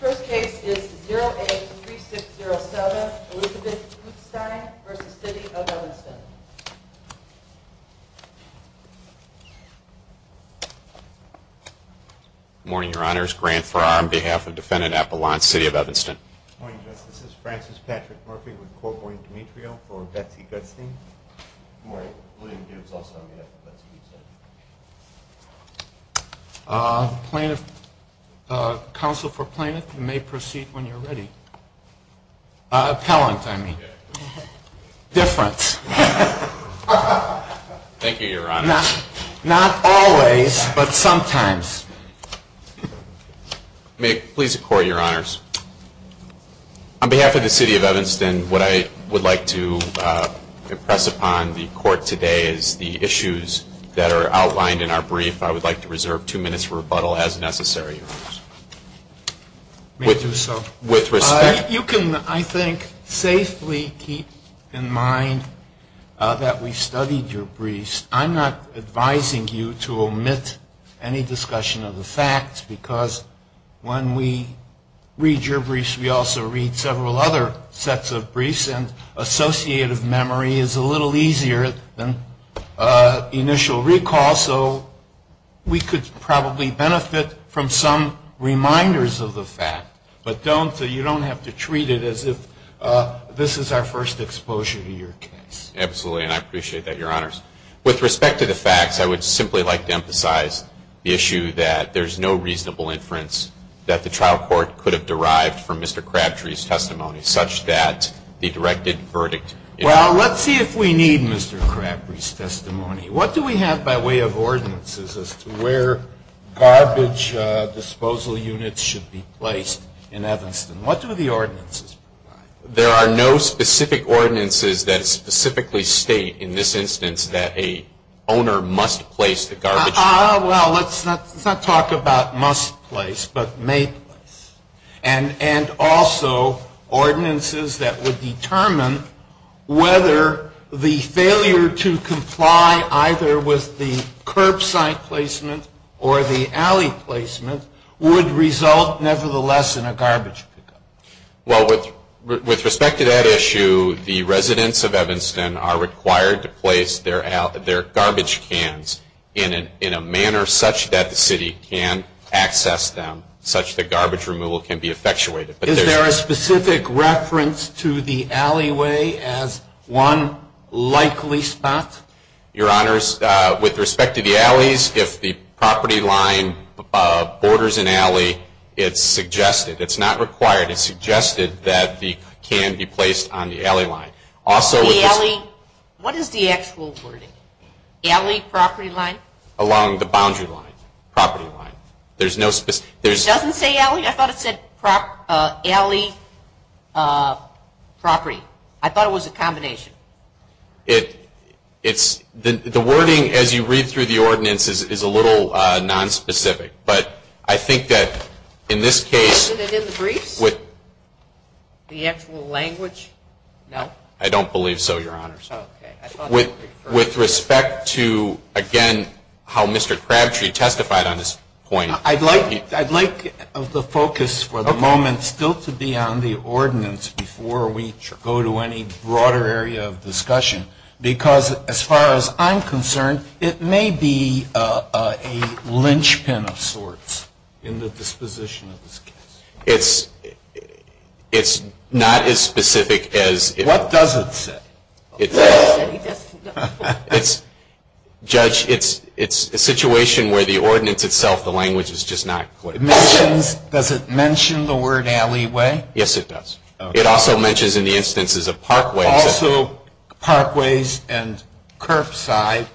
First case is 0A3607 Elizabeth Gutzstein v. City of Evanston Good morning, your honors. Grant Farrar on behalf of defendant Apollon, City of Evanston Good morning, justices. Francis Patrick Murphy with Corcoran Demetrio for Betsy Gutzstein Good morning. William Gibbs also on behalf of Betsy Gutzstein Plaintiff, counsel for plaintiff, you may proceed when you're ready. Appellant, I mean. Difference. Thank you, your honors. Not always, but sometimes. May it please the court, your honors. On behalf of the City of Evanston, what I would like to impress upon the court today is the issues that are outlined in our brief. I would like to reserve two minutes for rebuttal as necessary, your honors. May it do so. With respect. You can, I think, safely keep in mind that we studied your briefs. I'm not advising you to omit any discussion of the facts because when we read your briefs, we also read several other sets of briefs and associative memory is a little easier than initial recall, so we could probably benefit from some reminders of the fact. But don't, you don't have to treat it as if this is our first exposure to your case. Absolutely, and I appreciate that, your honors. With respect to the facts, I would simply like to emphasize the issue that there's no reasonable inference that the trial court could have derived from Mr. Crabtree's testimony such that the directed verdict. Well, let's see if we need Mr. Crabtree's testimony. What do we have by way of ordinances as to where garbage disposal units should be placed in Evanston? What do the ordinances provide? There are no specific ordinances that specifically state in this instance that a owner must place the garbage. Well, let's not talk about must place, but may place, and also ordinances that would determine whether the failure to comply either with the curbside placement or the alley placement would result nevertheless in a garbage pickup. Well, with respect to that issue, the residents of Evanston are required to place their garbage cans in a manner such that the city can access them, such that garbage removal can be effectuated. Is there a specific reference to the alleyway as one likely spot? Your Honors, with respect to the alleys, if the property line borders an alley, it's suggested. It's not required. It's suggested that the can be placed on the alley line. What is the actual wording? Alley property line? Along the boundary line, property line. It doesn't say alley? I thought it said alley property. I thought it was a combination. The wording as you read through the ordinances is a little nonspecific, but I think that in this case. Is it in the briefs? The actual language? No. I don't believe so, Your Honors. Okay. With respect to, again, how Mr. Crabtree testified on this point. I'd like the focus for the moment still to be on the ordinance before we go to any broader area of discussion. Because as far as I'm concerned, it may be a linchpin of sorts in the disposition of this case. It's not as specific as. What does it say? Judge, it's a situation where the ordinance itself, the language is just not. Does it mention the word alleyway? Yes, it does. It also mentions in the instances of parkways. Also parkways and curbside.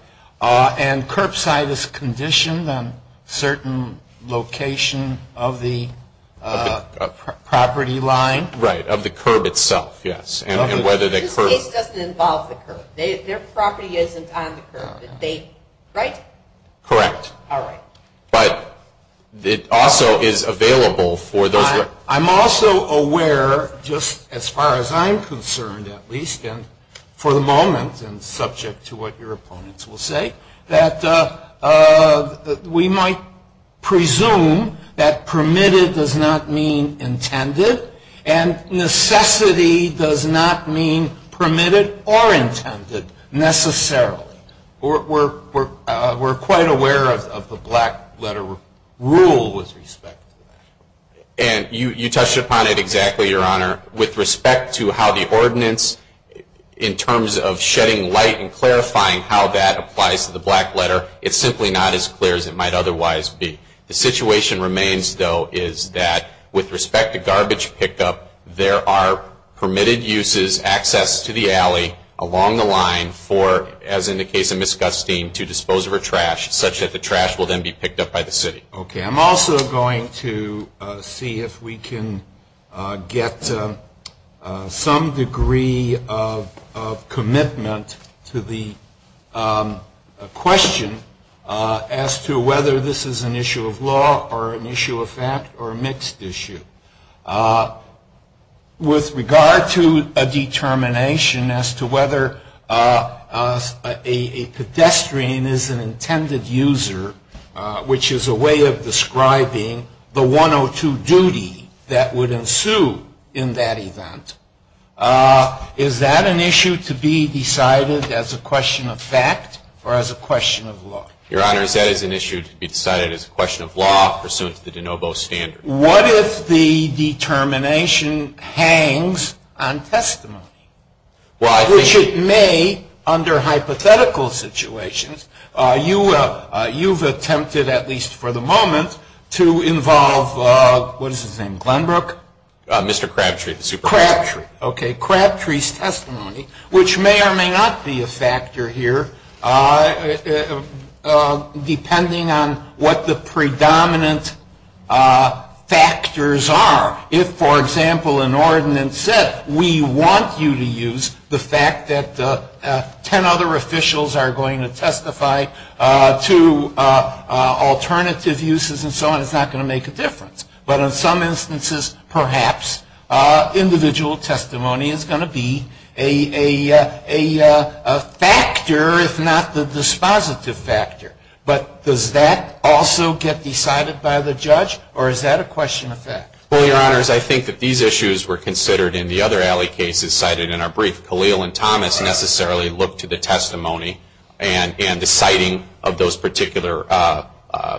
And curbside is conditioned on certain location of the property line? Right, of the curb itself, yes. This case doesn't involve the curb. Their property isn't on the curb. Right? Correct. All right. But it also is available for those. I'm also aware, just as far as I'm concerned at least, and for the moment and subject to what your opponents will say, that we might presume that permitted does not mean intended, and necessity does not mean permitted or intended necessarily. We're quite aware of the black letter rule with respect to that. And you touched upon it exactly, your honor. With respect to how the ordinance, in terms of shedding light and clarifying how that applies to the black letter, it's simply not as clear as it might otherwise be. The situation remains, though, is that with respect to garbage pickup, there are permitted uses, access to the alley along the line for, as in the case of Miss Gustine, to dispose of her trash, such that the trash will then be picked up by the city. Okay. I'm also going to see if we can get some degree of commitment to the question as to whether this is an issue of law or an issue of fact or a mixed issue. With regard to a determination as to whether a pedestrian is an intended user, which is a way of describing the 102 duty that would ensue in that event, is that an issue to be decided as a question of fact or as a question of law? Your honor, that is an issue to be decided as a question of law pursuant to the de novo standard. What if the determination hangs on testimony, which it may under hypothetical situations. You've attempted, at least for the moment, to involve, what is his name, Glenbrook? Mr. Crabtree. Crabtree. Okay. Crabtree's testimony, which may or may not be a factor here, depending on what the predominant factors are. If, for example, an ordinance said we want you to use the fact that 10 other officials are going to testify to alternative uses and so on, it's not going to make a difference. But in some instances, perhaps, individual testimony is going to be a factor, if not the dispositive factor. But does that also get decided by the judge or is that a question of fact? Well, your honors, I think that these issues were considered in the other alley cases cited in our brief. Khalil and Thomas necessarily looked to the testimony and the citing of those particular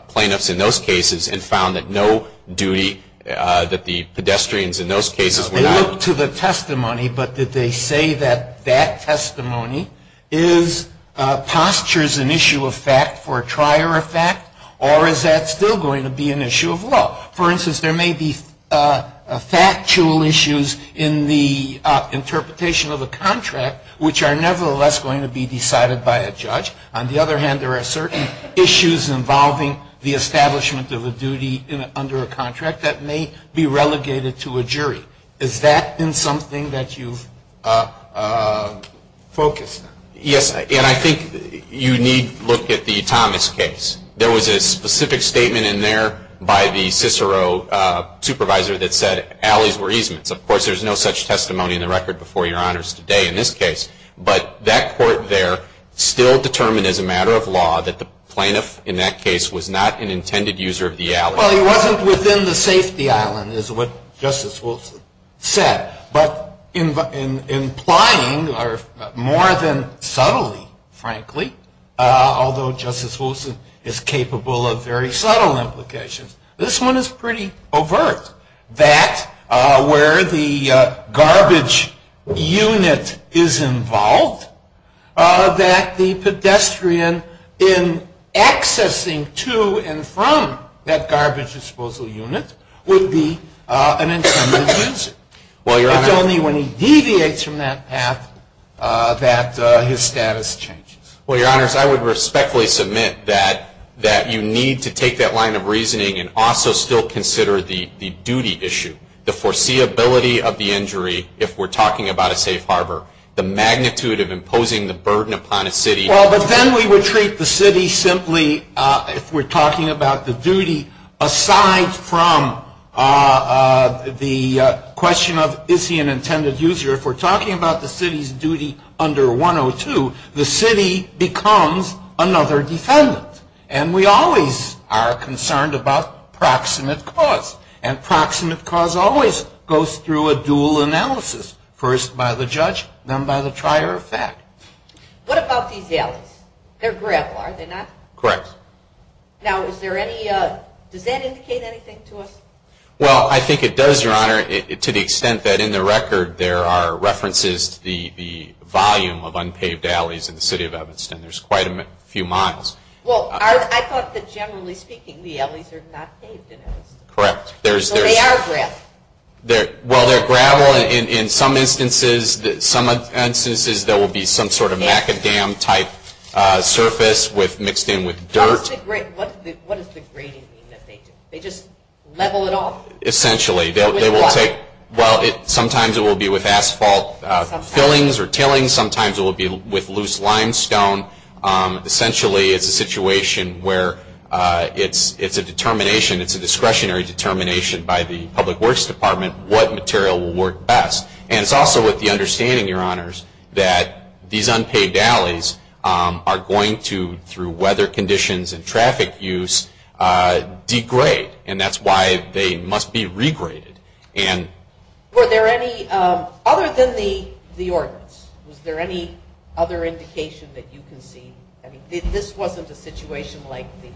plaintiffs in those cases and found that no duty, that the pedestrians in those cases were not. They looked to the testimony, but did they say that that testimony postures an issue of fact for a trier of fact or is that still going to be an issue of law? For instance, there may be factual issues in the interpretation of a contract, which are nevertheless going to be decided by a judge. On the other hand, there are certain issues involving the establishment of a duty under a contract that may be relegated to a jury. Is that been something that you've focused on? Yes, and I think you need look at the Thomas case. There was a specific statement in there by the Cicero supervisor that said alleys were easements. Of course, there's no such testimony in the record before your honors today in this case. But that court there still determined as a matter of law that the plaintiff in that case was not an intended user of the alley. Well, he wasn't within the safety island is what Justice Wilson said. But implying more than subtly, frankly, although Justice Wilson is capable of very subtle implications, this one is pretty overt, that where the garbage unit is involved, that the pedestrian in accessing to and from that garbage disposal unit would be an intended user. It's only when he deviates from that path that his status changes. Well, your honors, I would respectfully submit that you need to take that line of reasoning and also still consider the duty issue, the foreseeability of the injury if we're talking about a safe harbor, the magnitude of imposing the burden upon a city. Well, but then we would treat the city simply if we're talking about the duty aside from the question of is he an intended user. If we're talking about the city's duty under 102, the city becomes another defendant. And we always are concerned about proximate cause. And proximate cause always goes through a dual analysis, first by the judge, then by the trier of fact. What about these alleys? They're gravel, are they not? Correct. Now, is there any, does that indicate anything to us? Well, I think it does, your honor, to the extent that in the record there are references to the volume of unpaved alleys in the city of Evanston. There's quite a few miles. Well, I thought that generally speaking the alleys are not paved in Evanston. Correct. So they are gravel. Well, they're gravel. In some instances there will be some sort of macadam type surface mixed in with dirt. What does the grading mean that they do? They just level it off? Essentially. Well, sometimes it will be with asphalt fillings or tillings. Sometimes it will be with loose limestone. Essentially it's a situation where it's a determination, it's a discretionary determination by the Public Works Department what material will work best. And it's also with the understanding, your honors, that these unpaved alleys are going to, through weather conditions and traffic use, degrade. And that's why they must be regraded. Were there any, other than the ordinance, was there any other indication that you can see? I mean, this wasn't a situation like the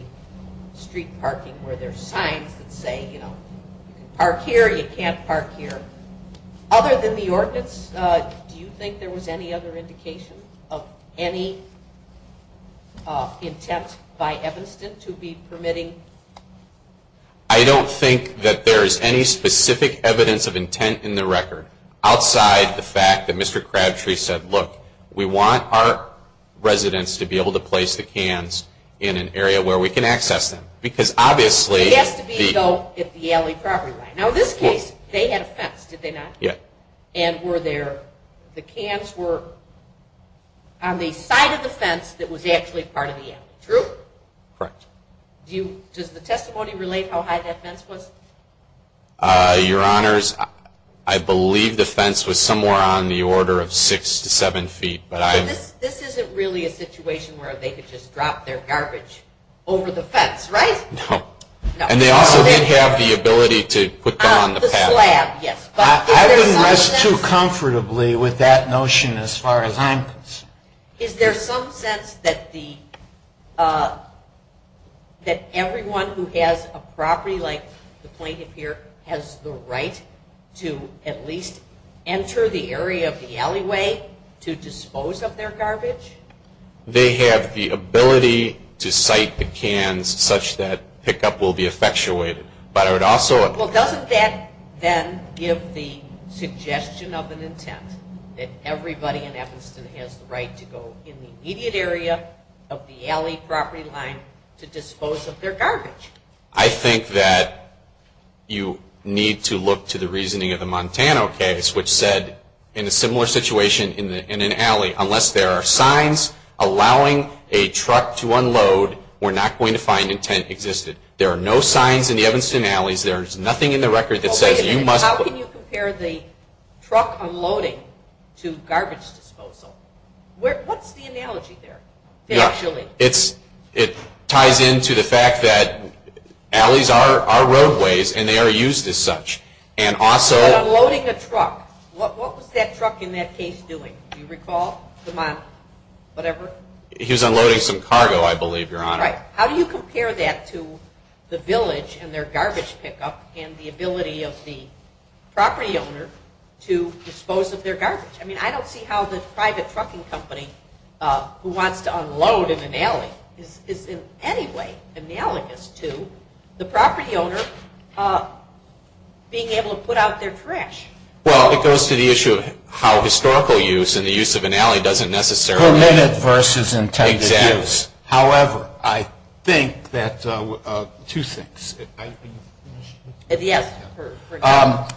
street parking where there's signs that say, you know, you can park here, you can't park here. Other than the ordinance, do you think there was any other indication of any intent by Evanston to be permitting? I don't think that there is any specific evidence of intent in the record outside the fact that Mr. Crabtree said, look, we want our residents to be able to place the cans in an area where we can access them. Because obviously... It has to be, though, at the alley property line. Now in this case, they had a fence, did they not? Yeah. And were there, the cans were on the side of the fence that was actually part of the alley. True? Correct. Do you, does the testimony relate how high that fence was? Your honors, I believe the fence was somewhere on the order of six to seven feet. But this isn't really a situation where they could just drop their garbage over the fence, right? No. And they also didn't have the ability to put them on the path. The slab, yes. I wouldn't rest too comfortably with that notion as far as I'm concerned. Is there some sense that everyone who has a property like the plaintiff here has the right to at least enter the area of the alleyway to dispose of their garbage? They have the ability to site the cans such that pickup will be effectuated. But I would also... Well, doesn't that then give the suggestion of an intent that everybody in Evanston has the right to go in the immediate area of the alley property line to dispose of their garbage? I think that you need to look to the reasoning of the Montana case, which said in a similar situation in an alley, unless there are signs allowing a truck to unload, we're not going to find intent existed. There are no signs in the Evanston alleys. There's nothing in the record that says you must... Wait a minute. How can you compare the truck unloading to garbage disposal? What's the analogy there, financially? It ties into the fact that alleys are roadways and they are used as such. Unloading a truck. What was that truck in that case doing? Do you recall? The Montana? Whatever? He was unloading some cargo, I believe, Your Honor. Right. How do you compare that to the village and their garbage pickup and the ability of the property owner to dispose of their garbage? I mean, I don't see how the private trucking company who wants to unload in an alley is in any way analogous to the property owner being able to put out their trash. Well, it goes to the issue of how historical use and the use of an alley doesn't necessarily... Permanent versus intended use. Exactly. However, I think that two things. Yes.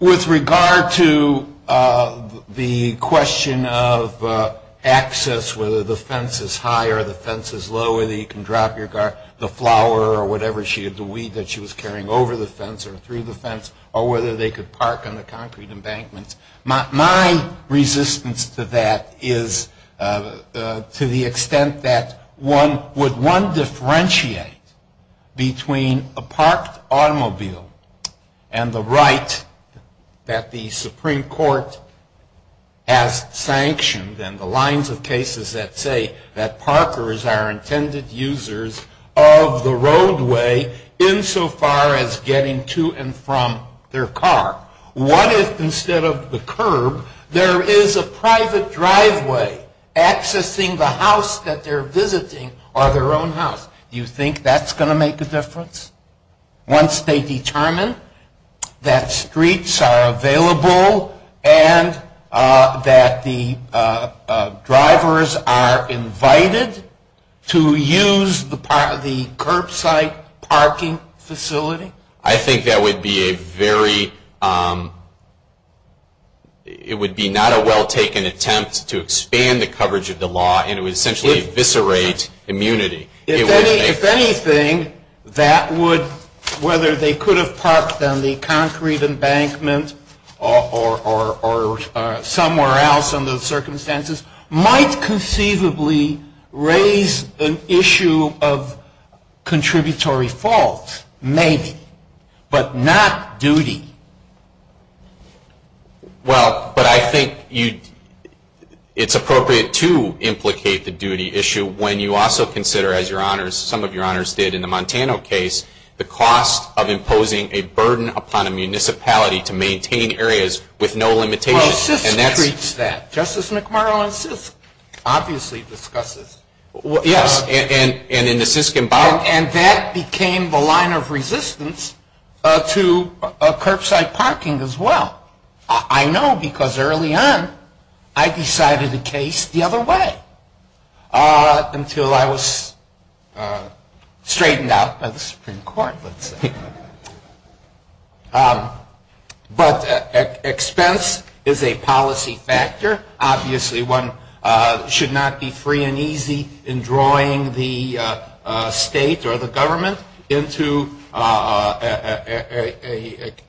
With regard to the question of access, whether the fence is high or the fence is low, whether you can drop the flower or whatever, the weed that she was carrying over the fence or through the fence, or whether they could park on the concrete embankments. My resistance to that is to the extent that would one differentiate between a parked automobile and the right that the Supreme Court has sanctioned and the lines of cases that say that parkers are intended users of the roadway insofar as getting to and from their car. What if instead of the curb there is a private driveway accessing the house that they're visiting or their own house? Do you think that's going to make a difference once they determine that streets are available and that the drivers are invited to use the curbside parking facility? I think that would be a very... It would be not a well-taken attempt to expand the coverage of the law and it would essentially eviscerate immunity. If anything, that would, whether they could have parked on the concrete embankment or somewhere else under the circumstances, might conceivably raise an issue of contributory fault. Maybe. But not duty. Well, but I think it's appropriate to implicate the duty issue when you also consider, as some of your honors did in the Montana case, the cost of imposing a burden upon a municipality to maintain areas with no limitations. Well, SISC treats that. Justice McMurrow and SISC obviously discuss this. Yes, and in the SISC embargo... And that became the line of resistance to curbside parking as well. I know because early on I decided the case the other way, until I was straightened out by the Supreme Court, let's say. But expense is a policy factor. Obviously one should not be free and easy in drawing the state or the government into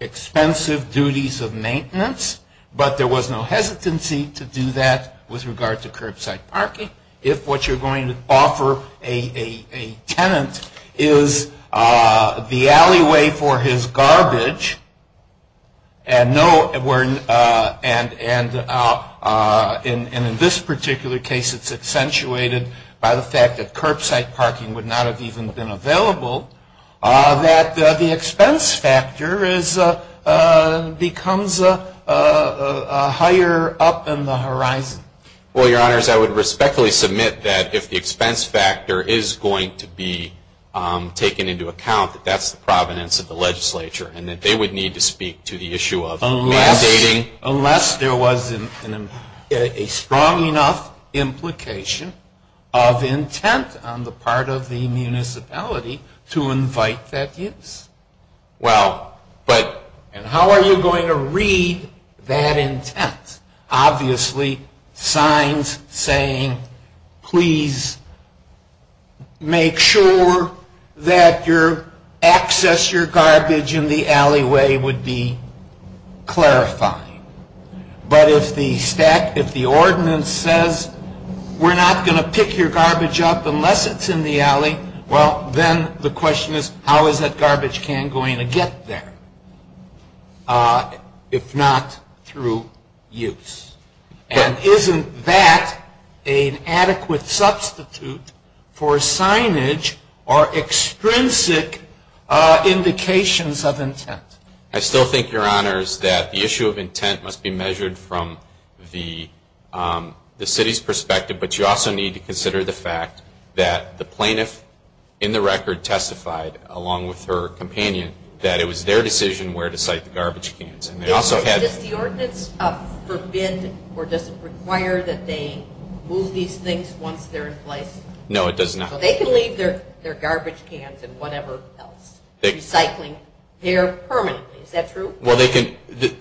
expensive duties of maintenance. But there was no hesitancy to do that with regard to curbside parking. If what you're going to offer a tenant is the alleyway for his garbage, and in this particular case it's accentuated by the fact that curbside parking would not have even been available, that the expense factor becomes higher up in the horizon. Well, your honors, I would respectfully submit that if the expense factor is going to be taken into account, that that's the provenance of the legislature, and that they would need to speak to the issue of mandating... of the municipality to invite that use. Well, but... And how are you going to read that intent? Obviously signs saying, please make sure that your access to your garbage in the alleyway would be clarifying. But if the ordinance says, we're not going to pick your garbage up unless it's in the alley, well, then the question is, how is that garbage can going to get there if not through use? And isn't that an adequate substitute for signage or extrinsic indications of intent? I still think, your honors, that the issue of intent must be measured from the city's perspective, but you also need to consider the fact that the plaintiff in the record testified, along with her companion, that it was their decision where to site the garbage cans. Does the ordinance forbid or does it require that they move these things once they're in place? No, it does not. So they can leave their garbage cans and whatever else recycling there permanently, is that true? Well, they can...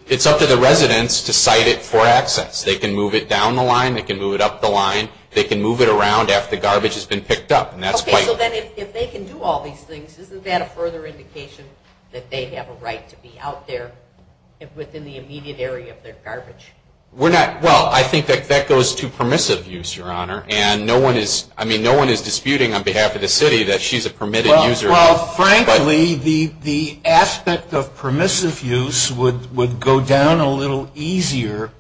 It's up to the residents to site it for access. They can move it down the line, they can move it up the line, they can move it around after the garbage has been picked up, and that's quite... Okay, so then if they can do all these things, isn't that a further indication that they have a right to be out there within the immediate area of their garbage? We're not... Well, I think that goes to permissive use, your honor, and no one is disputing on behalf of the city that she's a permitted user. Well, frankly, the aspect of permissive use would go down a little easier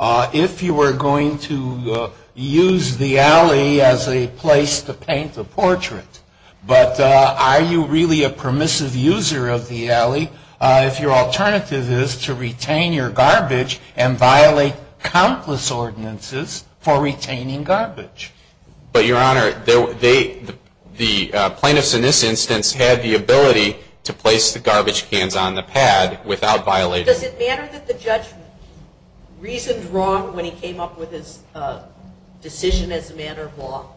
if you were going to use the alley as a place to paint a portrait. But are you really a permissive user of the alley if your alternative is to retain your garbage and violate countless ordinances for retaining garbage? But, your honor, the plaintiffs in this instance had the ability to place the garbage cans on the pad without violating... Does it matter that the judge reasoned wrong when he came up with his decision as a matter of law?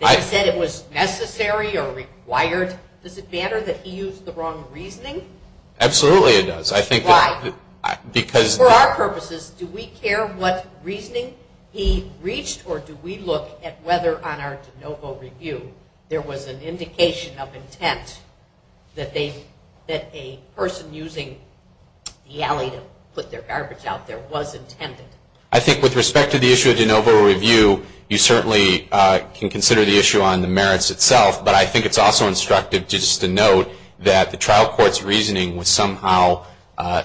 If he said it was necessary or required, does it matter that he used the wrong reasoning? Absolutely it does. Why? For our purposes, do we care what reasoning he reached or do we look at whether on our de novo review there was an indication of intent that a person using the alley to put their garbage out there was intended? I think with respect to the issue of de novo review, you certainly can consider the issue on the merits itself, but I think it's also instructive just to note that the trial court's reasoning was somehow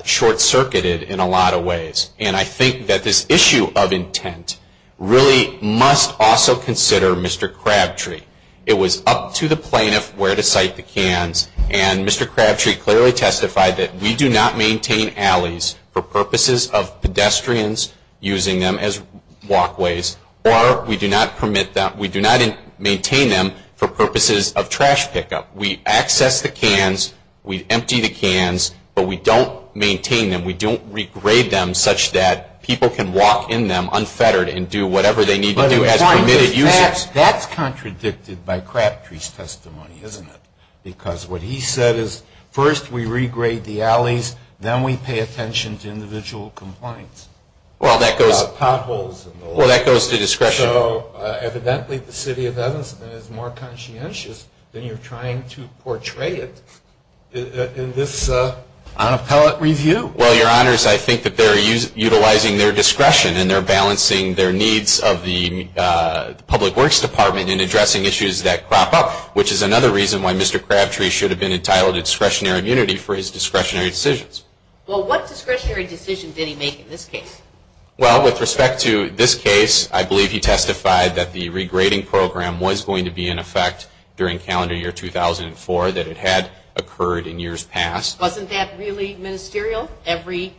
short-circuited in a lot of ways. And I think that this issue of intent really must also consider Mr. Crabtree. It was up to the plaintiff where to site the cans, and Mr. Crabtree clearly testified that we do not maintain alleys for purposes of pedestrians using them as walkways or we do not maintain them for purposes of trash pickup. We access the cans, we empty the cans, but we don't maintain them, we don't regrade them such that people can walk in them unfettered and do whatever they need to do as permitted users. That's contradicted by Crabtree's testimony, isn't it? Because what he said is first we regrade the alleys, then we pay attention to individual compliance. Well, that goes to discretion. So evidently the City of Evanston is more conscientious than you're trying to portray it in this unappellate review. Well, Your Honors, I think that they're utilizing their discretion and they're balancing their needs of the Public Works Department in addressing issues that crop up, which is another reason why Mr. Crabtree should have been entitled to discretionary immunity for his discretionary decisions. Well, what discretionary decision did he make in this case? Well, with respect to this case, I believe he testified that the regrading program was going to be in effect during calendar year 2004, that it had occurred in years past. Wasn't that really ministerial? Every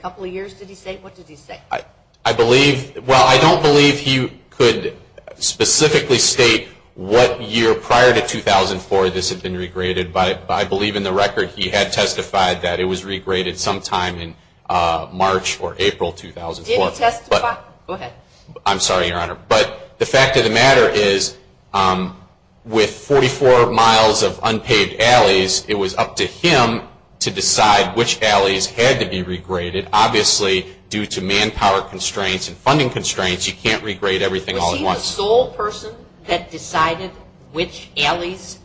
couple of years did he say? What did he say? Well, I don't believe he could specifically state what year prior to 2004 this had been regraded, but I believe in the record he had testified that it was regraded sometime in March or April 2004. Did he testify? Go ahead. I'm sorry, Your Honor. But the fact of the matter is with 44 miles of unpaved alleys, it was up to him to decide which alleys had to be regraded. Obviously, due to manpower constraints and funding constraints, you can't regrade everything all at once. Was he the sole person that decided which alleys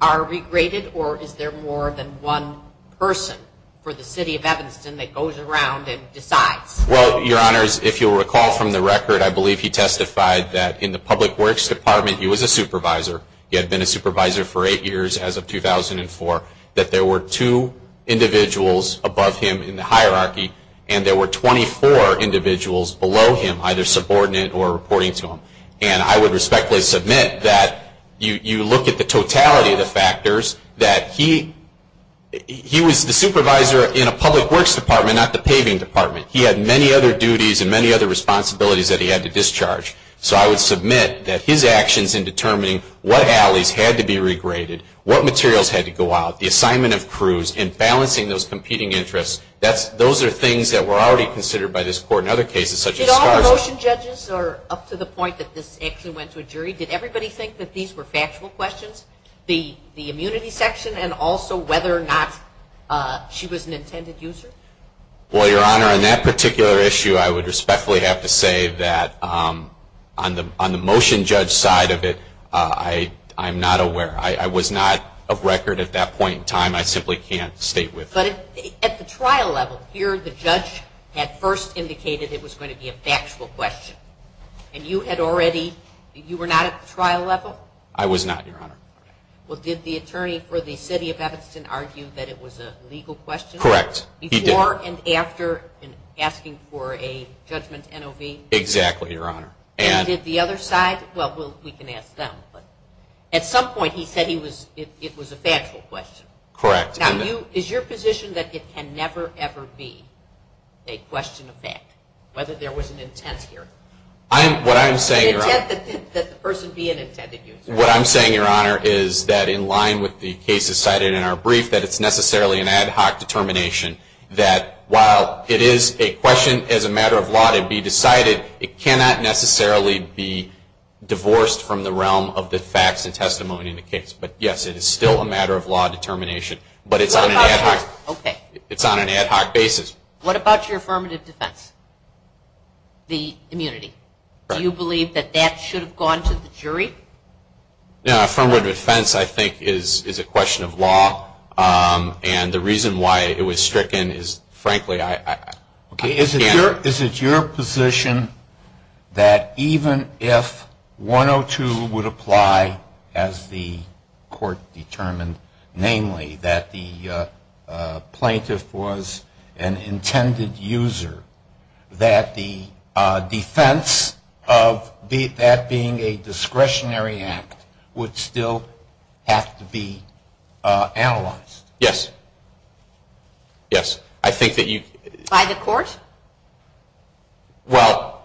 are regraded, or is there more than one person for the City of Evanston that goes around and decides? Well, Your Honors, if you'll recall from the record, I believe he testified that in the Public Works Department he was a supervisor. He had been a supervisor for eight years as of 2004, that there were two individuals above him in the hierarchy, and there were 24 individuals below him, either subordinate or reporting to him. And I would respectfully submit that you look at the totality of the factors, that he was the supervisor in a Public Works Department, not the paving department. He had many other duties and many other responsibilities that he had to discharge. So I would submit that his actions in determining what alleys had to be regraded, and balancing those competing interests, those are things that were already considered by this Court in other cases, such as SCARS. Did all the motion judges, up to the point that this actually went to a jury, did everybody think that these were factual questions? The immunity section, and also whether or not she was an intended user? Well, Your Honor, on that particular issue, I would respectfully have to say that on the motion judge side of it, I'm not aware. I was not of record at that point in time. I simply can't state with you. But at the trial level, here the judge had first indicated it was going to be a factual question. And you had already, you were not at the trial level? I was not, Your Honor. Well, did the attorney for the City of Evanston argue that it was a legal question? Correct. Before and after asking for a judgment NOV? Exactly, Your Honor. And did the other side? Well, we can ask them. At some point he said it was a factual question. Correct. Now, is your position that it can never, ever be a question of fact? Whether there was an intent here? What I'm saying, Your Honor, is that in line with the cases cited in our brief, that it's necessarily an ad hoc determination that while it is a question as a matter of law to be decided, it cannot necessarily be divorced from the realm of the facts and testimony in the case. But, yes, it is still a matter of law determination. But it's on an ad hoc basis. What about your affirmative defense, the immunity? Do you believe that that should have gone to the jury? Affirmative defense, I think, is a question of law. And the reason why it was stricken is, frankly, I can't. Is it your position that even if 102 would apply as the court determined, namely that the plaintiff was an intended user, that the defense of that being a discretionary act would still have to be analyzed? Yes. Yes. By the court? Well,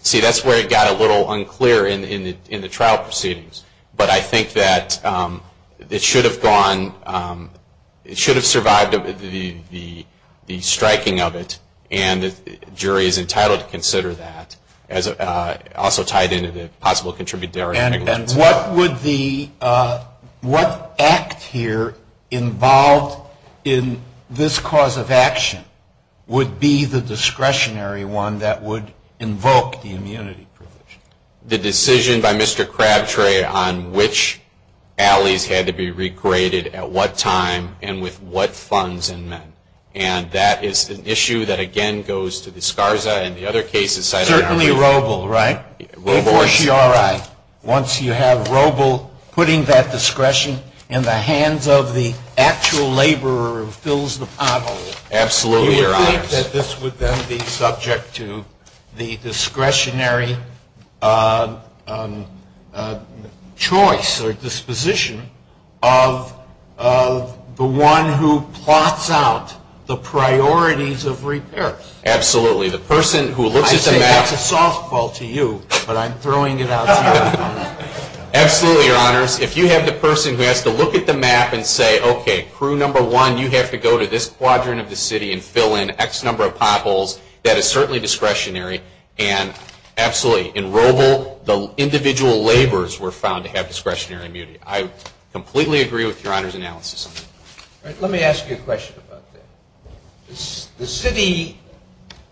see, that's where it got a little unclear in the trial proceedings. But I think that it should have gone, it should have survived the striking of it, and the jury is entitled to consider that, also tied into the possible contributory negligence. And what would the, what act here involved in this cause of action would be the discretionary one that would invoke the immunity provision? The decision by Mr. Crabtree on which alleys had to be regraded at what time and with what funds and men. And that is an issue that, again, goes to the SCARSA and the other cases cited in our brief. Once you have Roble putting that discretion in the hands of the actual laborer who fills the pothole, do you think that this would then be subject to the discretionary choice or disposition of the one who plots out the priorities of repair? Absolutely. The person who looks at the map. I say that's a softball to you, but I'm throwing it out to you. Absolutely, Your Honors. If you have the person who has to look at the map and say, okay, crew number one, you have to go to this quadrant of the city and fill in X number of potholes, that is certainly discretionary. And absolutely, in Roble, the individual laborers were found to have discretionary immunity. I completely agree with Your Honor's analysis. Let me ask you a question about that. The city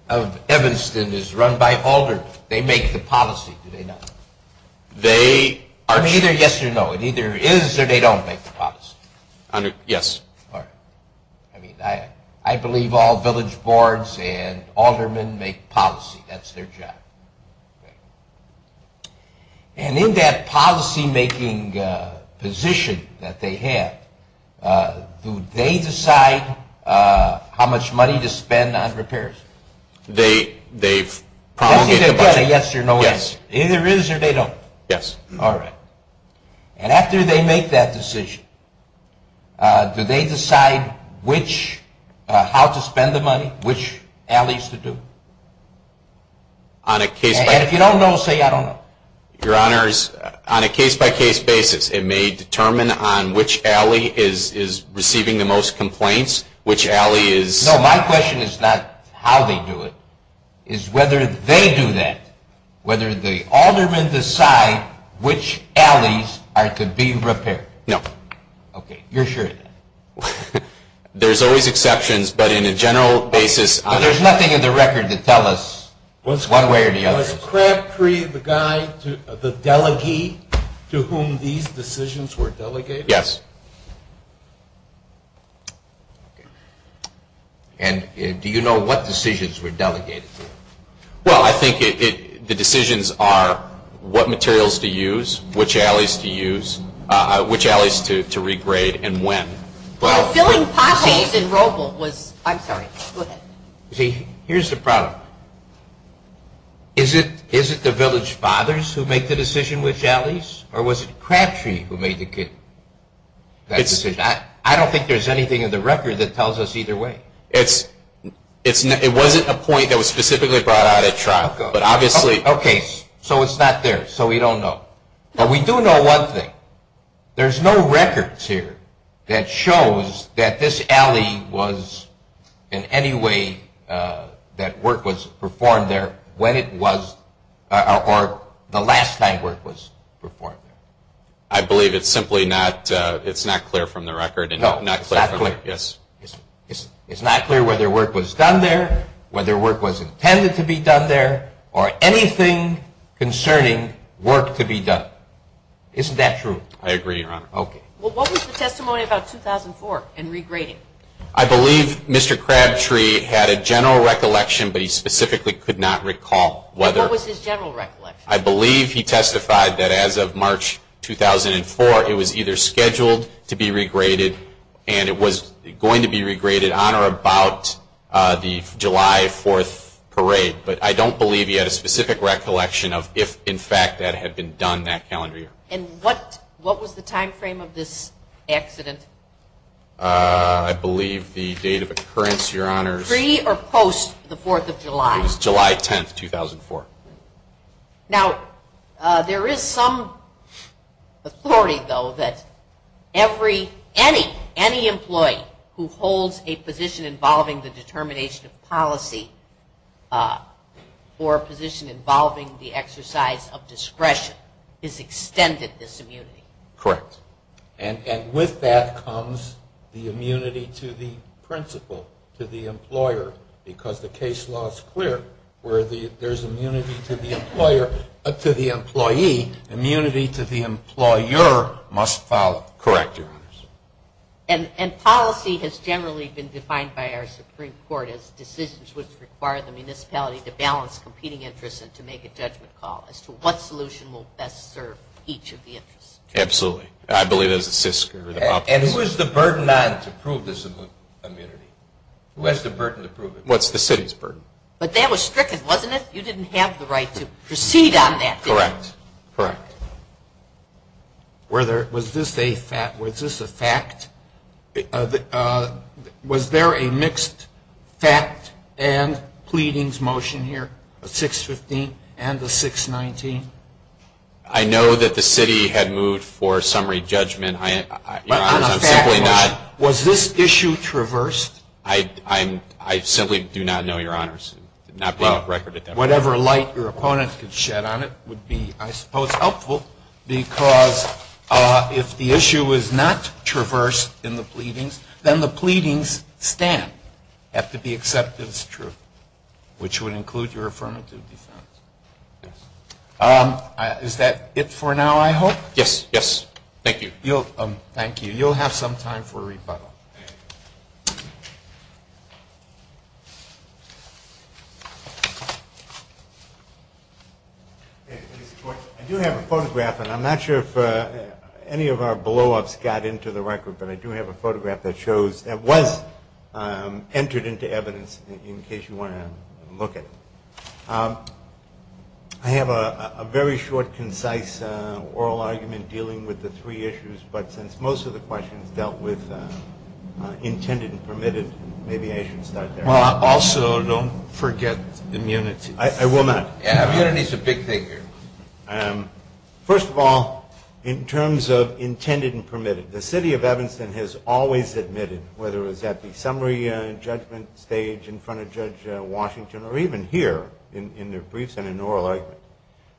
of Evanston is run by aldermen. They make the policy, do they not? They are. It either yes or no. It either is or they don't make the policy. Yes. All right. I mean, I believe all village boards and aldermen make policy. That's their job. And in that policymaking position that they have, do they decide how much money to spend on repairs? They've promulgated the budget. It's either a yes or no answer. Yes. It either is or they don't. Yes. All right. And after they make that decision, do they decide how to spend the money, which alleys to do? And if you don't know, say I don't know. Your Honors, on a case-by-case basis, it may determine on which alley is receiving the most complaints, which alley is... No, my question is not how they do it. It's whether they do that, whether the aldermen decide which alleys are to be repaired. No. Okay. You're sure? There's always exceptions, but in a general basis... There's nothing in the record to tell us one way or the other. Was Crabtree the guy, the delegate to whom these decisions were delegated? Yes. And do you know what decisions were delegated to? Well, I think the decisions are what materials to use, which alleys to use, which alleys to regrade, and when. Well, filling potholes in Roble was... I'm sorry. Go ahead. See, here's the problem. Is it the village fathers who make the decision, which alleys, or was it Crabtree who made the decision? I don't think there's anything in the record that tells us either way. It wasn't a point that was specifically brought out at trial, but obviously... Okay. So it's not there. So we don't know. But we do know one thing. There's no records here that shows that this alley was in any way that work was performed there when it was... or the last time work was performed. I believe it's simply not clear from the record. No, it's not clear. Yes. It's not clear whether work was done there, whether work was intended to be done there, or anything concerning work to be done. Isn't that true? I agree, Your Honor. Okay. Well, what was the testimony about 2004 and regrading? I believe Mr. Crabtree had a general recollection, but he specifically could not recall whether... What was his general recollection? I believe he testified that as of March 2004, it was either scheduled to be regraded and it was going to be regraded on or about the July 4th parade. But I don't believe he had a specific recollection of if, in fact, that had been done that calendar year. And what was the timeframe of this accident? I believe the date of occurrence, Your Honors. Pre or post the 4th of July? It was July 10th, 2004. Now, there is some authority, though, that every... determination of policy or position involving the exercise of discretion is extended, this immunity. Correct. And with that comes the immunity to the principal, to the employer, because the case law is clear where there is immunity to the employee. Immunity to the employer must follow. Correct, Your Honors. And policy has generally been defined by our Supreme Court as decisions which require the municipality to balance competing interests and to make a judgment call as to what solution will best serve each of the interests. Absolutely. I believe it was the SISC or the... And who is the burden on to prove this immunity? Who has the burden to prove it? Well, it's the city's burden. But that was stricken, wasn't it? You didn't have the right to proceed on that, did you? Correct. Correct. Was this a fact? Was there a mixed fact and pleadings motion here, a 615 and a 619? I know that the city had moved for summary judgment. Your Honors, I'm simply not... But on a fact, was this issue traversed? I simply do not know, Your Honors. Not being a record at that point. Whatever light your opponent could shed on it would be, I suppose, helpful, because if the issue is not traversed in the pleadings, then the pleadings stand after the acceptance is true, which would include your affirmative defense. Is that it for now, I hope? Yes, yes. Thank you. Thank you. You'll have some time for rebuttal. I do have a photograph, and I'm not sure if any of our blow-ups got into the record, but I do have a photograph that was entered into evidence in case you want to look at it. I have a very short, concise oral argument dealing with the three issues, but since most of the questions dealt with intended and permitted, maybe I should start there. Also, don't forget immunity. I will not. Immunity is a big thing here. First of all, in terms of intended and permitted, the city of Evanston has always admitted, whether it was at the summary judgment stage in front of Judge Washington or even here in their briefs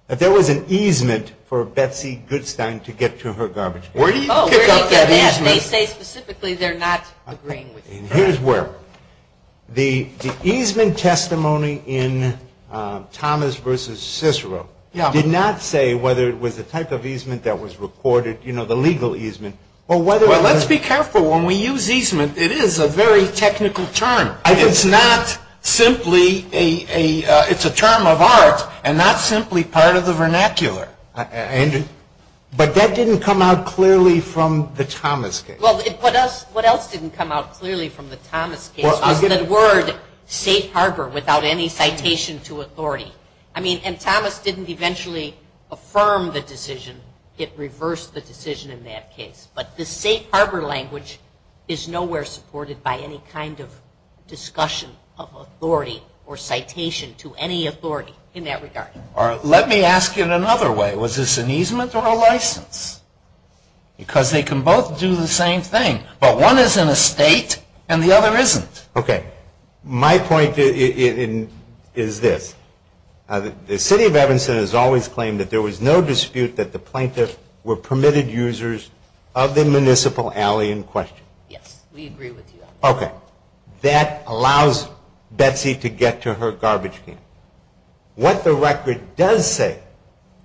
that there was an easement for Betsy Goodstein to get to her garbage bin. Where do you pick up that easement? They say specifically they're not agreeing with you. And here's where. The easement testimony in Thomas v. Cicero did not say whether it was the type of easement that was recorded, you know, the legal easement, or whether it was. Well, let's be careful. When we use easement, it is a very technical term. It's not simply a, it's a term of art and not simply part of the vernacular. But that didn't come out clearly from the Thomas case. Well, what else didn't come out clearly from the Thomas case was the word safe harbor without any citation to authority. I mean, and Thomas didn't eventually affirm the decision. It reversed the decision in that case. But the safe harbor language is nowhere supported by any kind of discussion of authority or citation to any authority in that regard. All right. Let me ask you in another way. Was this an easement or a license? Because they can both do the same thing. But one is in a state and the other isn't. Okay. My point is this. The city of Evanston has always claimed that there was no dispute that the plaintiff were permitted users of the municipal alley in question. Yes, we agree with you on that. Okay. That allows Betsy to get to her garbage can. What the record does say.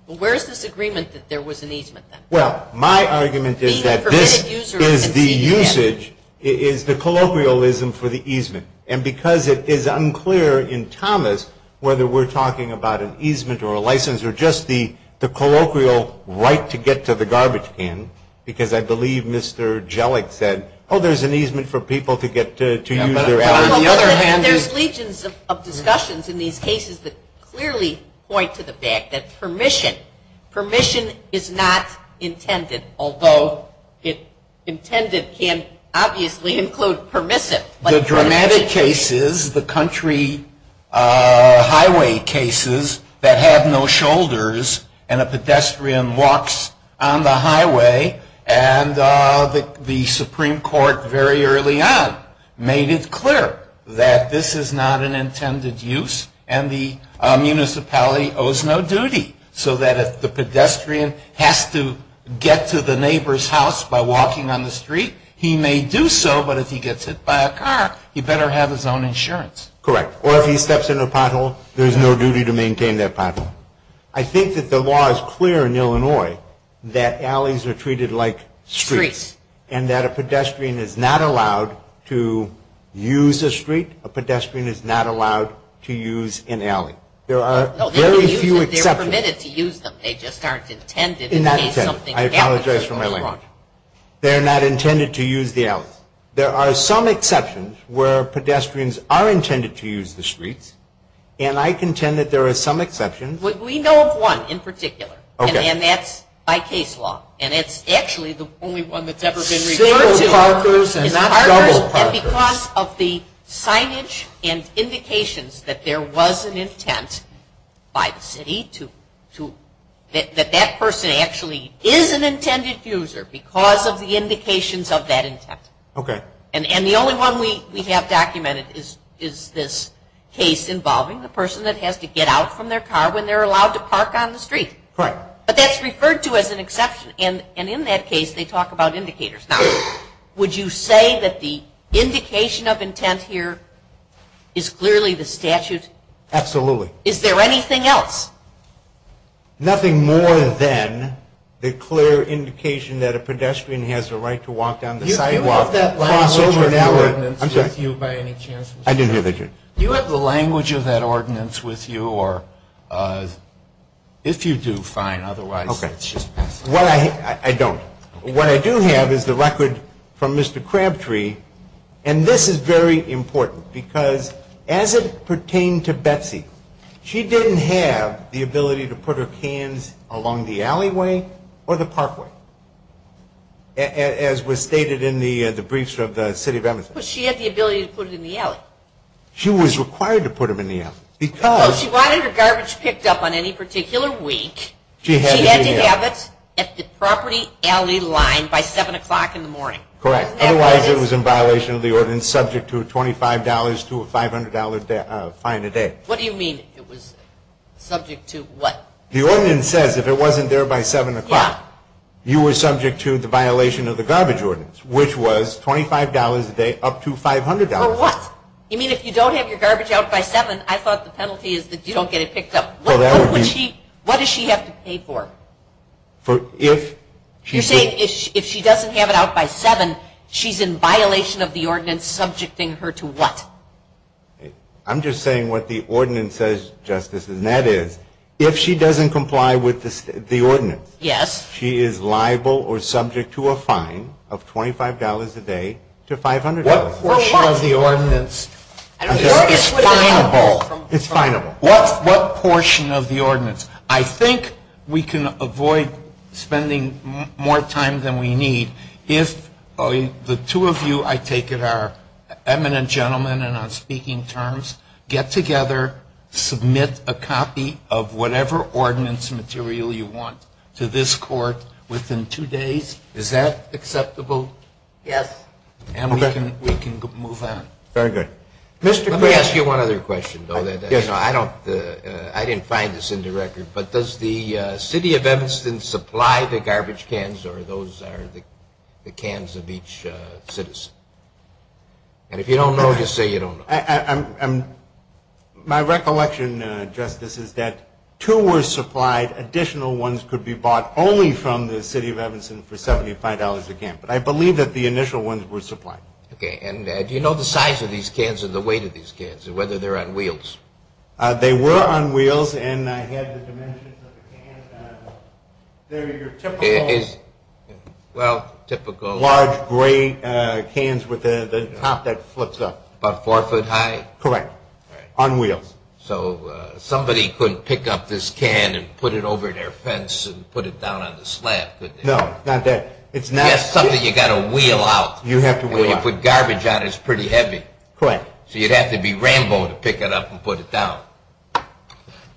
Well, where is this agreement that there was an easement then? Well, my argument is that this is the usage, is the colloquialism for the easement. And because it is unclear in Thomas whether we're talking about an easement or a license or just the colloquial right to get to the garbage can, because I believe Mr. Jellick said, oh, there's an easement for people to get to use their alley. But on the other hand. There's legions of discussions in these cases that clearly point to the fact that permission, permission is not intended, although intended can obviously include permissive. The dramatic cases, the country highway cases that have no shoulders and a pedestrian walks on the highway and the Supreme Court very early on made it clear that this is not an intended use and the municipality owes no duty. So that if the pedestrian has to get to the neighbor's house by walking on the street, he may do so, but if he gets hit by a car, he better have his own insurance. Correct. Or if he steps in a pothole, there's no duty to maintain that pothole. I think that the law is clear in Illinois that alleys are treated like streets and that a pedestrian is not allowed to use a street. A pedestrian is not allowed to use an alley. There are very few exceptions. No, they're permitted to use them. They just aren't intended in case something happens. They're not intended. I apologize for my language. They're not intended to use the alleys. There are some exceptions where pedestrians are intended to use the streets, and I contend that there are some exceptions. We know of one in particular, and that's by case law, and it's actually the only one that's ever been reviewed. Several parkers and double parkers. And because of the signage and indications that there was an intent by the city that that person actually is an intended user because of the indications of that intent. Okay. And the only one we have documented is this case involving the person that has to get out from their car when they're allowed to park on the street. Correct. But that's referred to as an exception, and in that case, they talk about indicators. Now, would you say that the indication of intent here is clearly the statute? Absolutely. Is there anything else? Nothing more than the clear indication that a pedestrian has a right to walk down the sidewalk. Do you have that language or that ordinance with you by any chance? I didn't hear that. Do you have the language of that ordinance with you, or if you do, fine. Otherwise, let's just pass it. I don't. What I do have is the record from Mr. Crabtree, and this is very important because as it pertained to Betsy, she didn't have the ability to put her cans along the alleyway or the parkway, as was stated in the briefs of the City of Edmonton. But she had the ability to put it in the alley. She was required to put them in the alley because Well, she wanted her garbage picked up on any particular week. She had to have it at the property alley line by 7 o'clock in the morning. Correct. Otherwise, it was in violation of the ordinance, subject to a $25 to a $500 fine a day. What do you mean it was subject to what? The ordinance says if it wasn't there by 7 o'clock, you were subject to the violation of the garbage ordinance, which was $25 a day up to $500. For what? You mean if you don't have your garbage out by 7, I thought the penalty is that you don't get it picked up. What does she have to pay for? You're saying if she doesn't have it out by 7, she's in violation of the ordinance, subjecting her to what? I'm just saying what the ordinance says, Justice, and that is if she doesn't comply with the ordinance, she is liable or subject to a fine of $25 a day to $500. What portion of the ordinance? It's fineable. What portion of the ordinance? I think we can avoid spending more time than we need if the two of you, I take it, are eminent gentlemen and on speaking terms, get together, submit a copy of whatever ordinance material you want to this court within two days. Is that acceptable? Yes. And we can move on. Very good. Let me ask you one other question, though. I didn't find this in the record, but does the City of Evanston supply the garbage cans or those are the cans of each citizen? And if you don't know, just say you don't know. My recollection, Justice, is that two were supplied. Additional ones could be bought only from the City of Evanston for $75 a can, but I believe that the initial ones were supplied. Okay, and do you know the size of these cans or the weight of these cans or whether they're on wheels? They were on wheels and I had the dimensions of the can. They're your typical large gray cans with the top that flips up. About four foot high? Correct, on wheels. So somebody could pick up this can and put it over their fence and put it down on the slab, couldn't they? No, not that. Yes, something you've got to wheel out. You have to wheel out. And when you put garbage on it, it's pretty heavy. Correct. So you'd have to be Rambo to pick it up and put it down.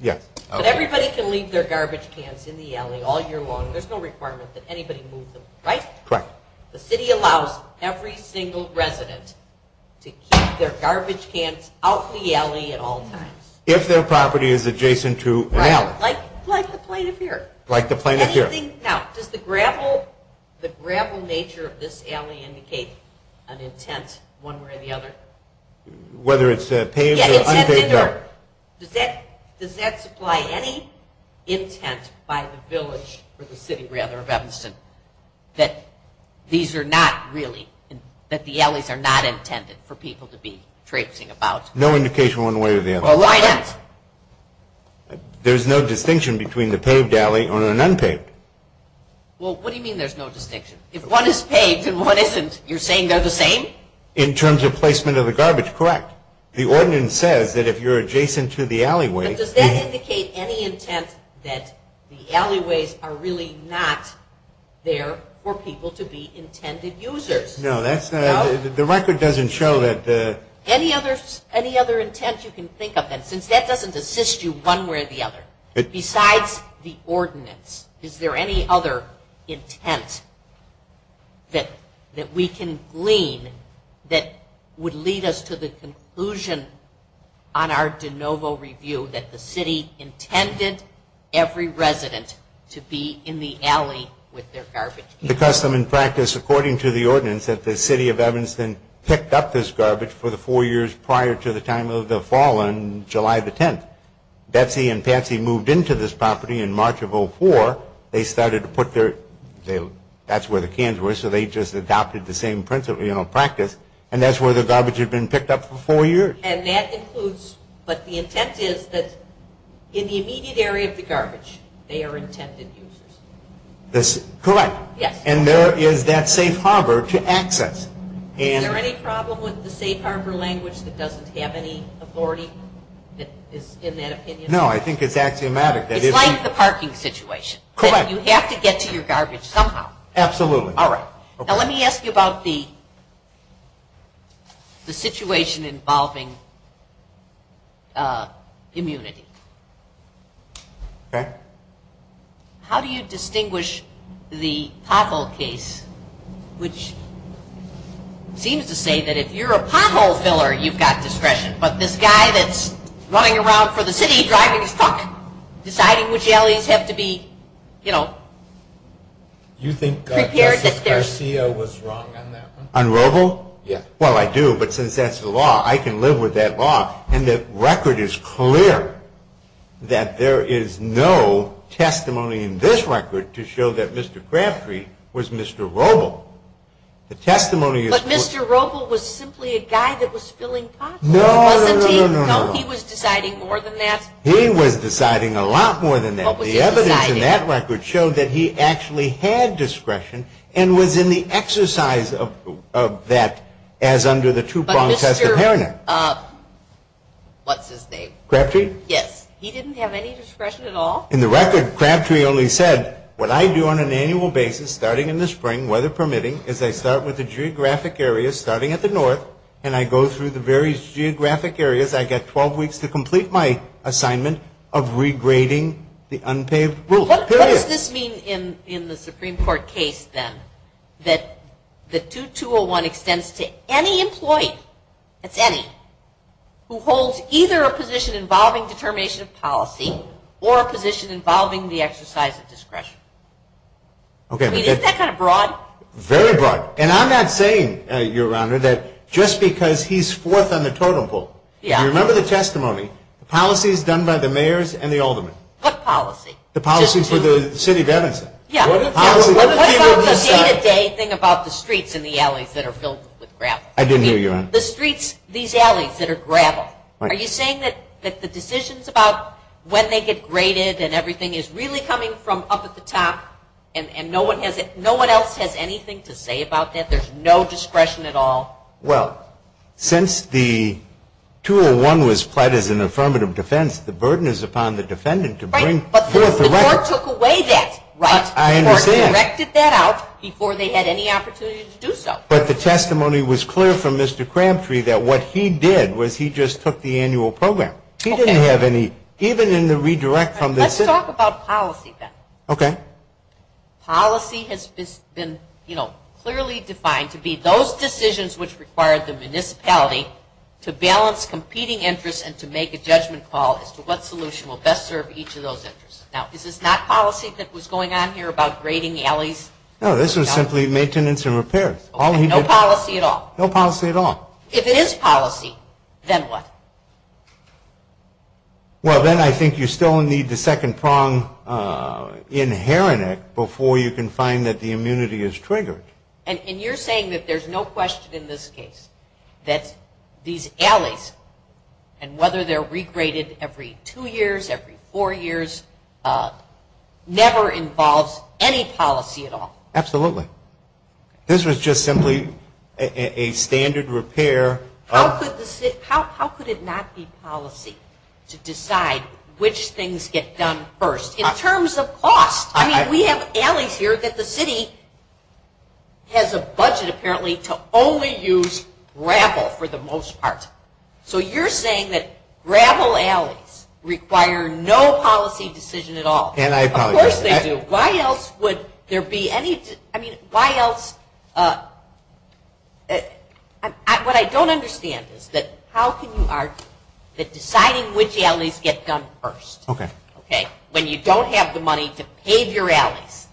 Yes. But everybody can leave their garbage cans in the alley all year long. There's no requirement that anybody move them, right? Correct. The city allows every single resident to keep their garbage cans out in the alley at all times. If their property is adjacent to an alley. Right, like the plaintiff here. Like the plaintiff here. Now, does the gravel nature of this alley indicate an intent one way or the other? Whether it's paved or unpaved. Does that supply any intent by the village, or the city rather, of Evanston, that these are not really, that the alleys are not intended for people to be traipsing about? No indication one way or the other. Well, why not? There's no distinction between the paved alley or an unpaved. Well, what do you mean there's no distinction? If one is paved and one isn't, you're saying they're the same? In terms of placement of the garbage. Correct. The ordinance says that if you're adjacent to the alleyway. But does that indicate any intent that the alleyways are really not there for people to be intended users? No, that's not. The record doesn't show that. Any other intent you can think of? And since that doesn't assist you one way or the other, besides the ordinance, is there any other intent that we can glean that would lead us to the conclusion on our de novo review that the city intended every resident to be in the alley with their garbage? The custom and practice, according to the ordinance, that the city of Evanston picked up this garbage for the four years prior to the time of the fall on July the 10th. Betsy and Patsy moved into this property in March of 2004. They started to put their – that's where the cans were, so they just adopted the same principle, you know, practice, and that's where the garbage had been picked up for four years. And that includes – but the intent is that in the immediate area of the garbage, they are intended users. Correct. And there is that safe harbor to access. Is there any problem with the safe harbor language that doesn't have any authority that is in that opinion? No, I think it's axiomatic. It's like the parking situation. Correct. You have to get to your garbage somehow. Absolutely. All right. Now let me ask you about the situation involving immunity. Okay. How do you distinguish the pothole case, which seems to say that if you're a pothole filler, you've got discretion, but this guy that's running around for the city, driving his truck, deciding which alleys have to be, you know – You think Justice Garcia was wrong on that one? On Roble? Yeah. Well, I do, but since that's the law, I can live with that law. And the record is clear that there is no testimony in this record to show that Mr. Crabtree was Mr. Roble. The testimony is – But Mr. Roble was simply a guy that was filling potholes, wasn't he? No, no, no, no, no. No, he was deciding more than that? He was deciding a lot more than that. What was his deciding? The evidence in that record showed that he actually had discretion and was in the exercise of that as under the two-pronged test of heredity. What's his name? Crabtree? Yes. He didn't have any discretion at all? In the record, Crabtree only said, What I do on an annual basis, starting in the spring, weather permitting, is I start with the geographic areas, starting at the north, and I go through the various geographic areas. I get 12 weeks to complete my assignment of regrading the unpaved road. What does this mean in the Supreme Court case, then? That the 2201 extends to any employee – that's any – who holds either a position involving determination of policy or a position involving the exercise of discretion. I mean, isn't that kind of broad? Very broad. And I'm not saying, Your Honor, that just because he's fourth on the totem pole – You remember the testimony. The policy is done by the mayors and the aldermen. What policy? The policy for the city of Evanston. What about the day-to-day thing about the streets and the alleys that are filled with gravel? I didn't hear you, Your Honor. The streets, these alleys that are gravel. Are you saying that the decisions about when they get graded and everything is really coming from up at the top, and no one else has anything to say about that? There's no discretion at all? Well, since the 201 was pled as an affirmative defense, the burden is upon the defendant to bring forth a record. The court took away that, right? I understand. The court directed that out before they had any opportunity to do so. But the testimony was clear from Mr. Cramtree that what he did was he just took the annual program. Okay. He didn't have any, even in the redirect from the city. Let's talk about policy then. Okay. Policy has been, you know, clearly defined to be those decisions which require the municipality to balance competing interests and to make a judgment call as to what solution will best serve each of those interests. Now, is this not policy that was going on here about grading alleys? No, this was simply maintenance and repairs. No policy at all? No policy at all. If it is policy, then what? Well, then I think you still need the second prong inherent before you can find that the immunity is triggered. And you're saying that there's no question in this case that these alleys and whether they're regraded every two years, every four years, never involves any policy at all. Absolutely. This was just simply a standard repair. How could it not be policy to decide which things get done first in terms of cost? I mean, we have alleys here that the city has a budget, apparently, to only use gravel for the most part. So you're saying that gravel alleys require no policy decision at all. Of course they do. Why else would there be any – I mean, why else – what I don't understand is that how can you argue that deciding which alleys get done first, when you don't have the money to pave your alleys,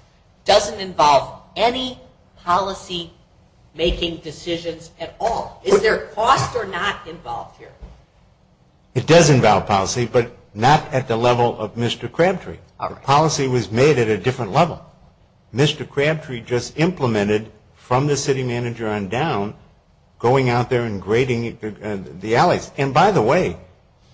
doesn't involve any policy-making decisions at all? Is there cost or not involved here? It does involve policy, but not at the level of Mr. Crabtree. The policy was made at a different level. Mr. Crabtree just implemented, from the city manager on down, going out there and grading the alleys. And, by the way,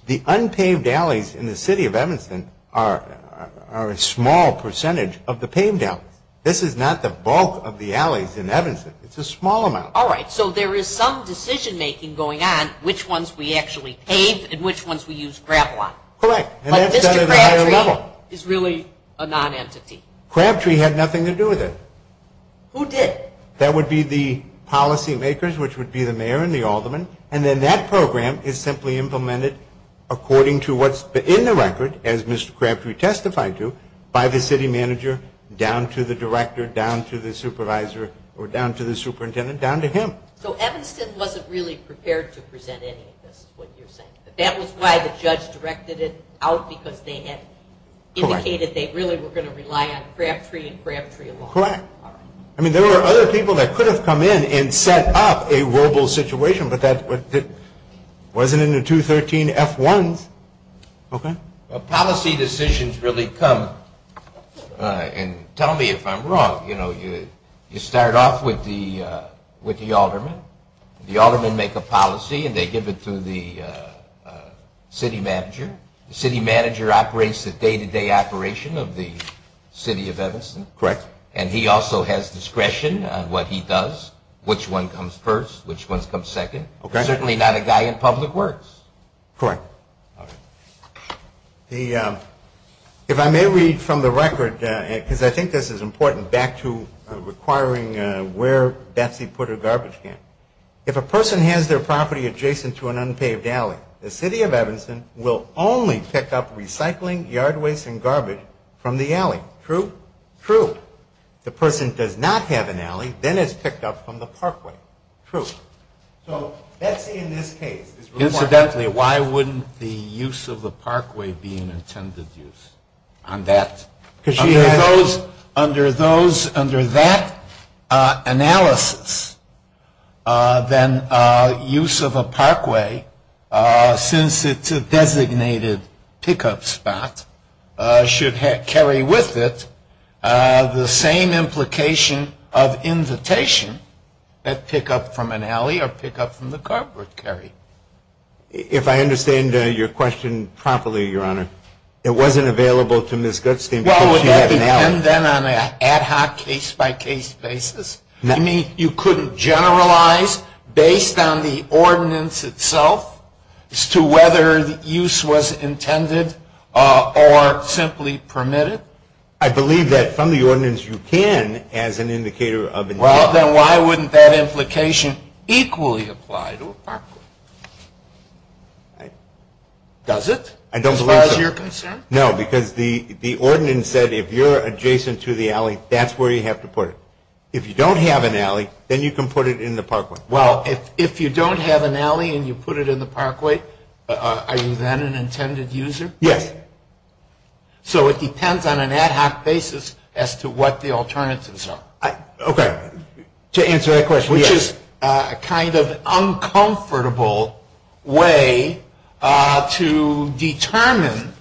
the unpaved alleys in the city of Evanston are a small percentage of the paved alleys. This is not the bulk of the alleys in Evanston. It's a small amount. All right. So there is some decision-making going on, which ones we actually pave and which ones we use gravel on. Correct. But Mr. Crabtree is really a non-entity. Crabtree had nothing to do with it. Who did? That would be the policy-makers, which would be the mayor and the aldermen, and then that program is simply implemented according to what's in the record, as Mr. Crabtree testified to, by the city manager, down to the director, down to the supervisor, or down to the superintendent, down to him. So Evanston wasn't really prepared to present any of this, is what you're saying. That was why the judge directed it out, because they had indicated they really were going to rely on Crabtree and Crabtree alone. Correct. I mean, there were other people that could have come in and set up a Wasn't it in the 213F1s? Okay. Policy decisions really come, and tell me if I'm wrong, you know, you start off with the aldermen, the aldermen make a policy and they give it to the city manager. The city manager operates the day-to-day operation of the city of Evanston. Correct. And he also has discretion on what he does, which one comes first, which one comes second. Certainly not a guy in public works. Correct. All right. If I may read from the record, because I think this is important, back to requiring where Betsy put her garbage can. If a person has their property adjacent to an unpaved alley, the city of Evanston will only pick up recycling, yard waste, and garbage from the alley. True? True. The person does not have an alley, then it's picked up from the parkway. True. So Betsy, in this case, is reporting. Incidentally, why wouldn't the use of the parkway be an intended use on that? Because she has. Under that analysis, then use of a parkway, since it's a designated pickup spot, should carry with it the same implication of invitation that pick up from an alley or pick up from the carport carry. If I understand your question properly, Your Honor, it wasn't available to Ms. Goodstein because she had an alley. Well, would that depend, then, on an ad hoc case-by-case basis? You mean you couldn't generalize based on the ordinance itself as to whether the use was intended or simply permitted? Well, then why wouldn't that implication equally apply to a parkway? Does it, as far as you're concerned? No, because the ordinance said if you're adjacent to the alley, that's where you have to put it. If you don't have an alley, then you can put it in the parkway. Well, if you don't have an alley and you put it in the parkway, are you then an intended user? Yes. So it depends on an ad hoc basis as to what the alternatives are. Okay. To answer that question, yes. Which is kind of an uncomfortable way to determine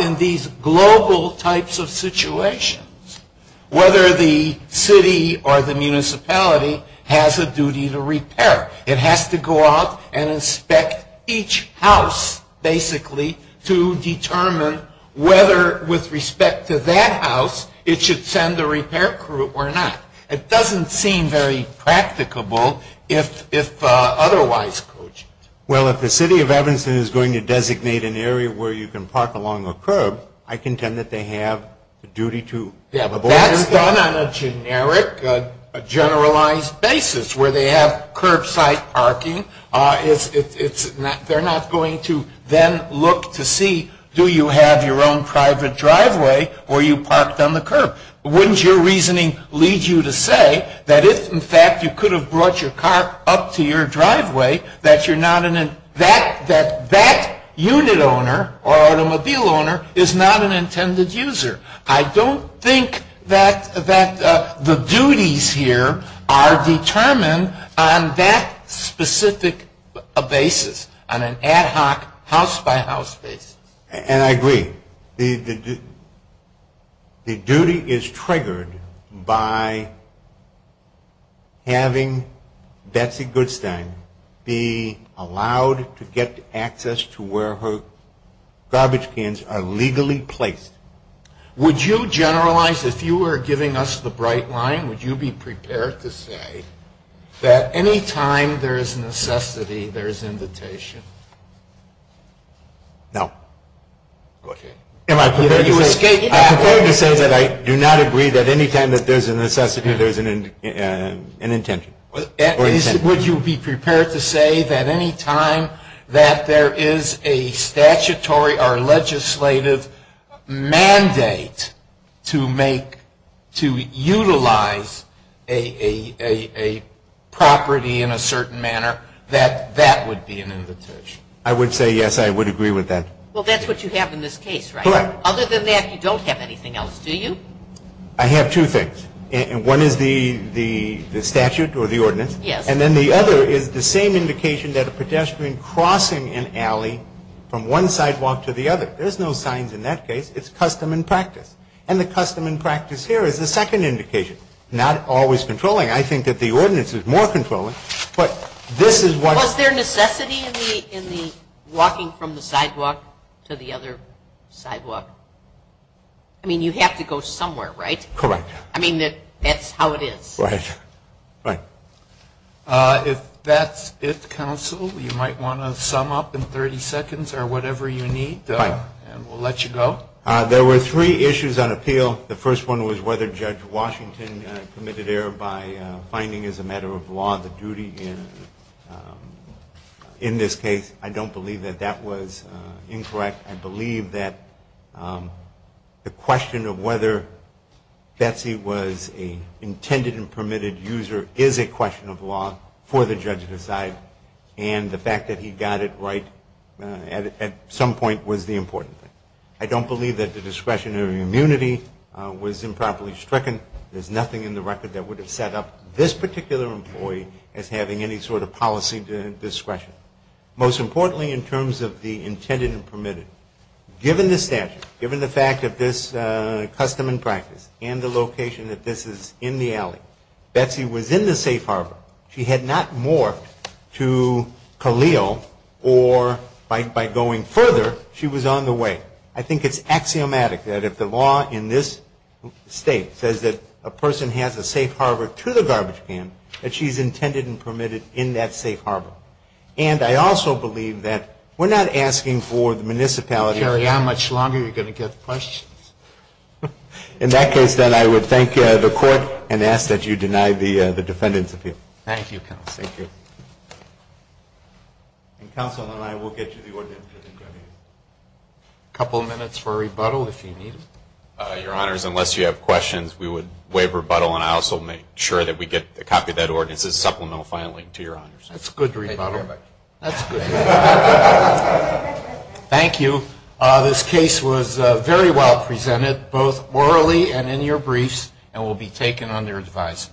in these global types of situations whether the city or the municipality has a duty to repair. It has to go out and inspect each house, basically, to determine whether, with respect to that house, it should send a repair crew or not. It doesn't seem very practicable if otherwise cogent. Well, if the city of Evanston is going to designate an area where you can park along a curb, I contend that they have a duty to abort repair. Yeah, but that's done on a generic, generalized basis, where they have curbside parking. They're not going to then look to see, do you have your own private driveway or are you parked on the curb? Wouldn't your reasoning lead you to say that if, in fact, you could have brought your car up to your driveway, that that unit owner or automobile owner is not an intended user? I don't think that the duties here are determined on that specific basis, on an ad hoc, house-by-house basis. And I agree. The duty is triggered by having Betsy Goodstein be allowed to get access to where her garbage cans are legally placed. Would you generalize, if you were giving us the bright line, would you be prepared to say that any time there is necessity, there is invitation? No. Okay. I prefer to say that I do not agree that any time that there's a necessity, there's an intention. Would you be prepared to say that any time that there is a statutory or legislative mandate to utilize a property in a certain manner, that that would be an invitation? I would say yes, I would agree with that. Well, that's what you have in this case, right? Correct. Other than that, you don't have anything else, do you? I have two things. One is the statute or the ordinance. Yes. And then the other is the same indication that a pedestrian crossing an alley from one sidewalk to the other. There's no signs in that case. It's custom and practice. And the custom and practice here is the second indication, not always controlling. I think that the ordinance is more controlling. Was there necessity in the walking from the sidewalk to the other sidewalk? I mean, you have to go somewhere, right? Correct. I mean, that's how it is. Right. Right. If that's it, counsel, you might want to sum up in 30 seconds or whatever you need, and we'll let you go. There were three issues on appeal. The first one was whether Judge Washington committed error by finding as a matter of law the duty in this case. I don't believe that that was incorrect. I believe that the question of whether Betsy was an intended and permitted user is a question of law for the judge to decide, and the fact that he got it right at some point was the important thing. I don't believe that the discretionary immunity was improperly stricken. There's nothing in the record that would have set up this particular employee as having any sort of policy discretion. Most importantly in terms of the intended and permitted, given the statute, given the fact of this custom and practice and the location that this is in the alley, Betsy was in the safe harbor. She had not morphed to Khalil or by going further, she was on the way. I think it's axiomatic that if the law in this state says that a person has a safe harbor to the garbage can, that she's intended and permitted in that safe harbor. And I also believe that we're not asking for the municipality. You carry on much longer, you're going to get questions. In that case, then, I would thank the court and ask that you deny the defendant's appeal. Thank you, counsel. Thank you. And counsel and I will get you the ordinance. A couple of minutes for rebuttal if you need it. Your honors, unless you have questions, we would waive rebuttal and I also make sure that we get a copy of that ordinance as supplemental filing to your honors. That's good rebuttal. Thank you very much. That's good. Thank you. This case was very well presented, both orally and in your briefs, and will be taken under advice.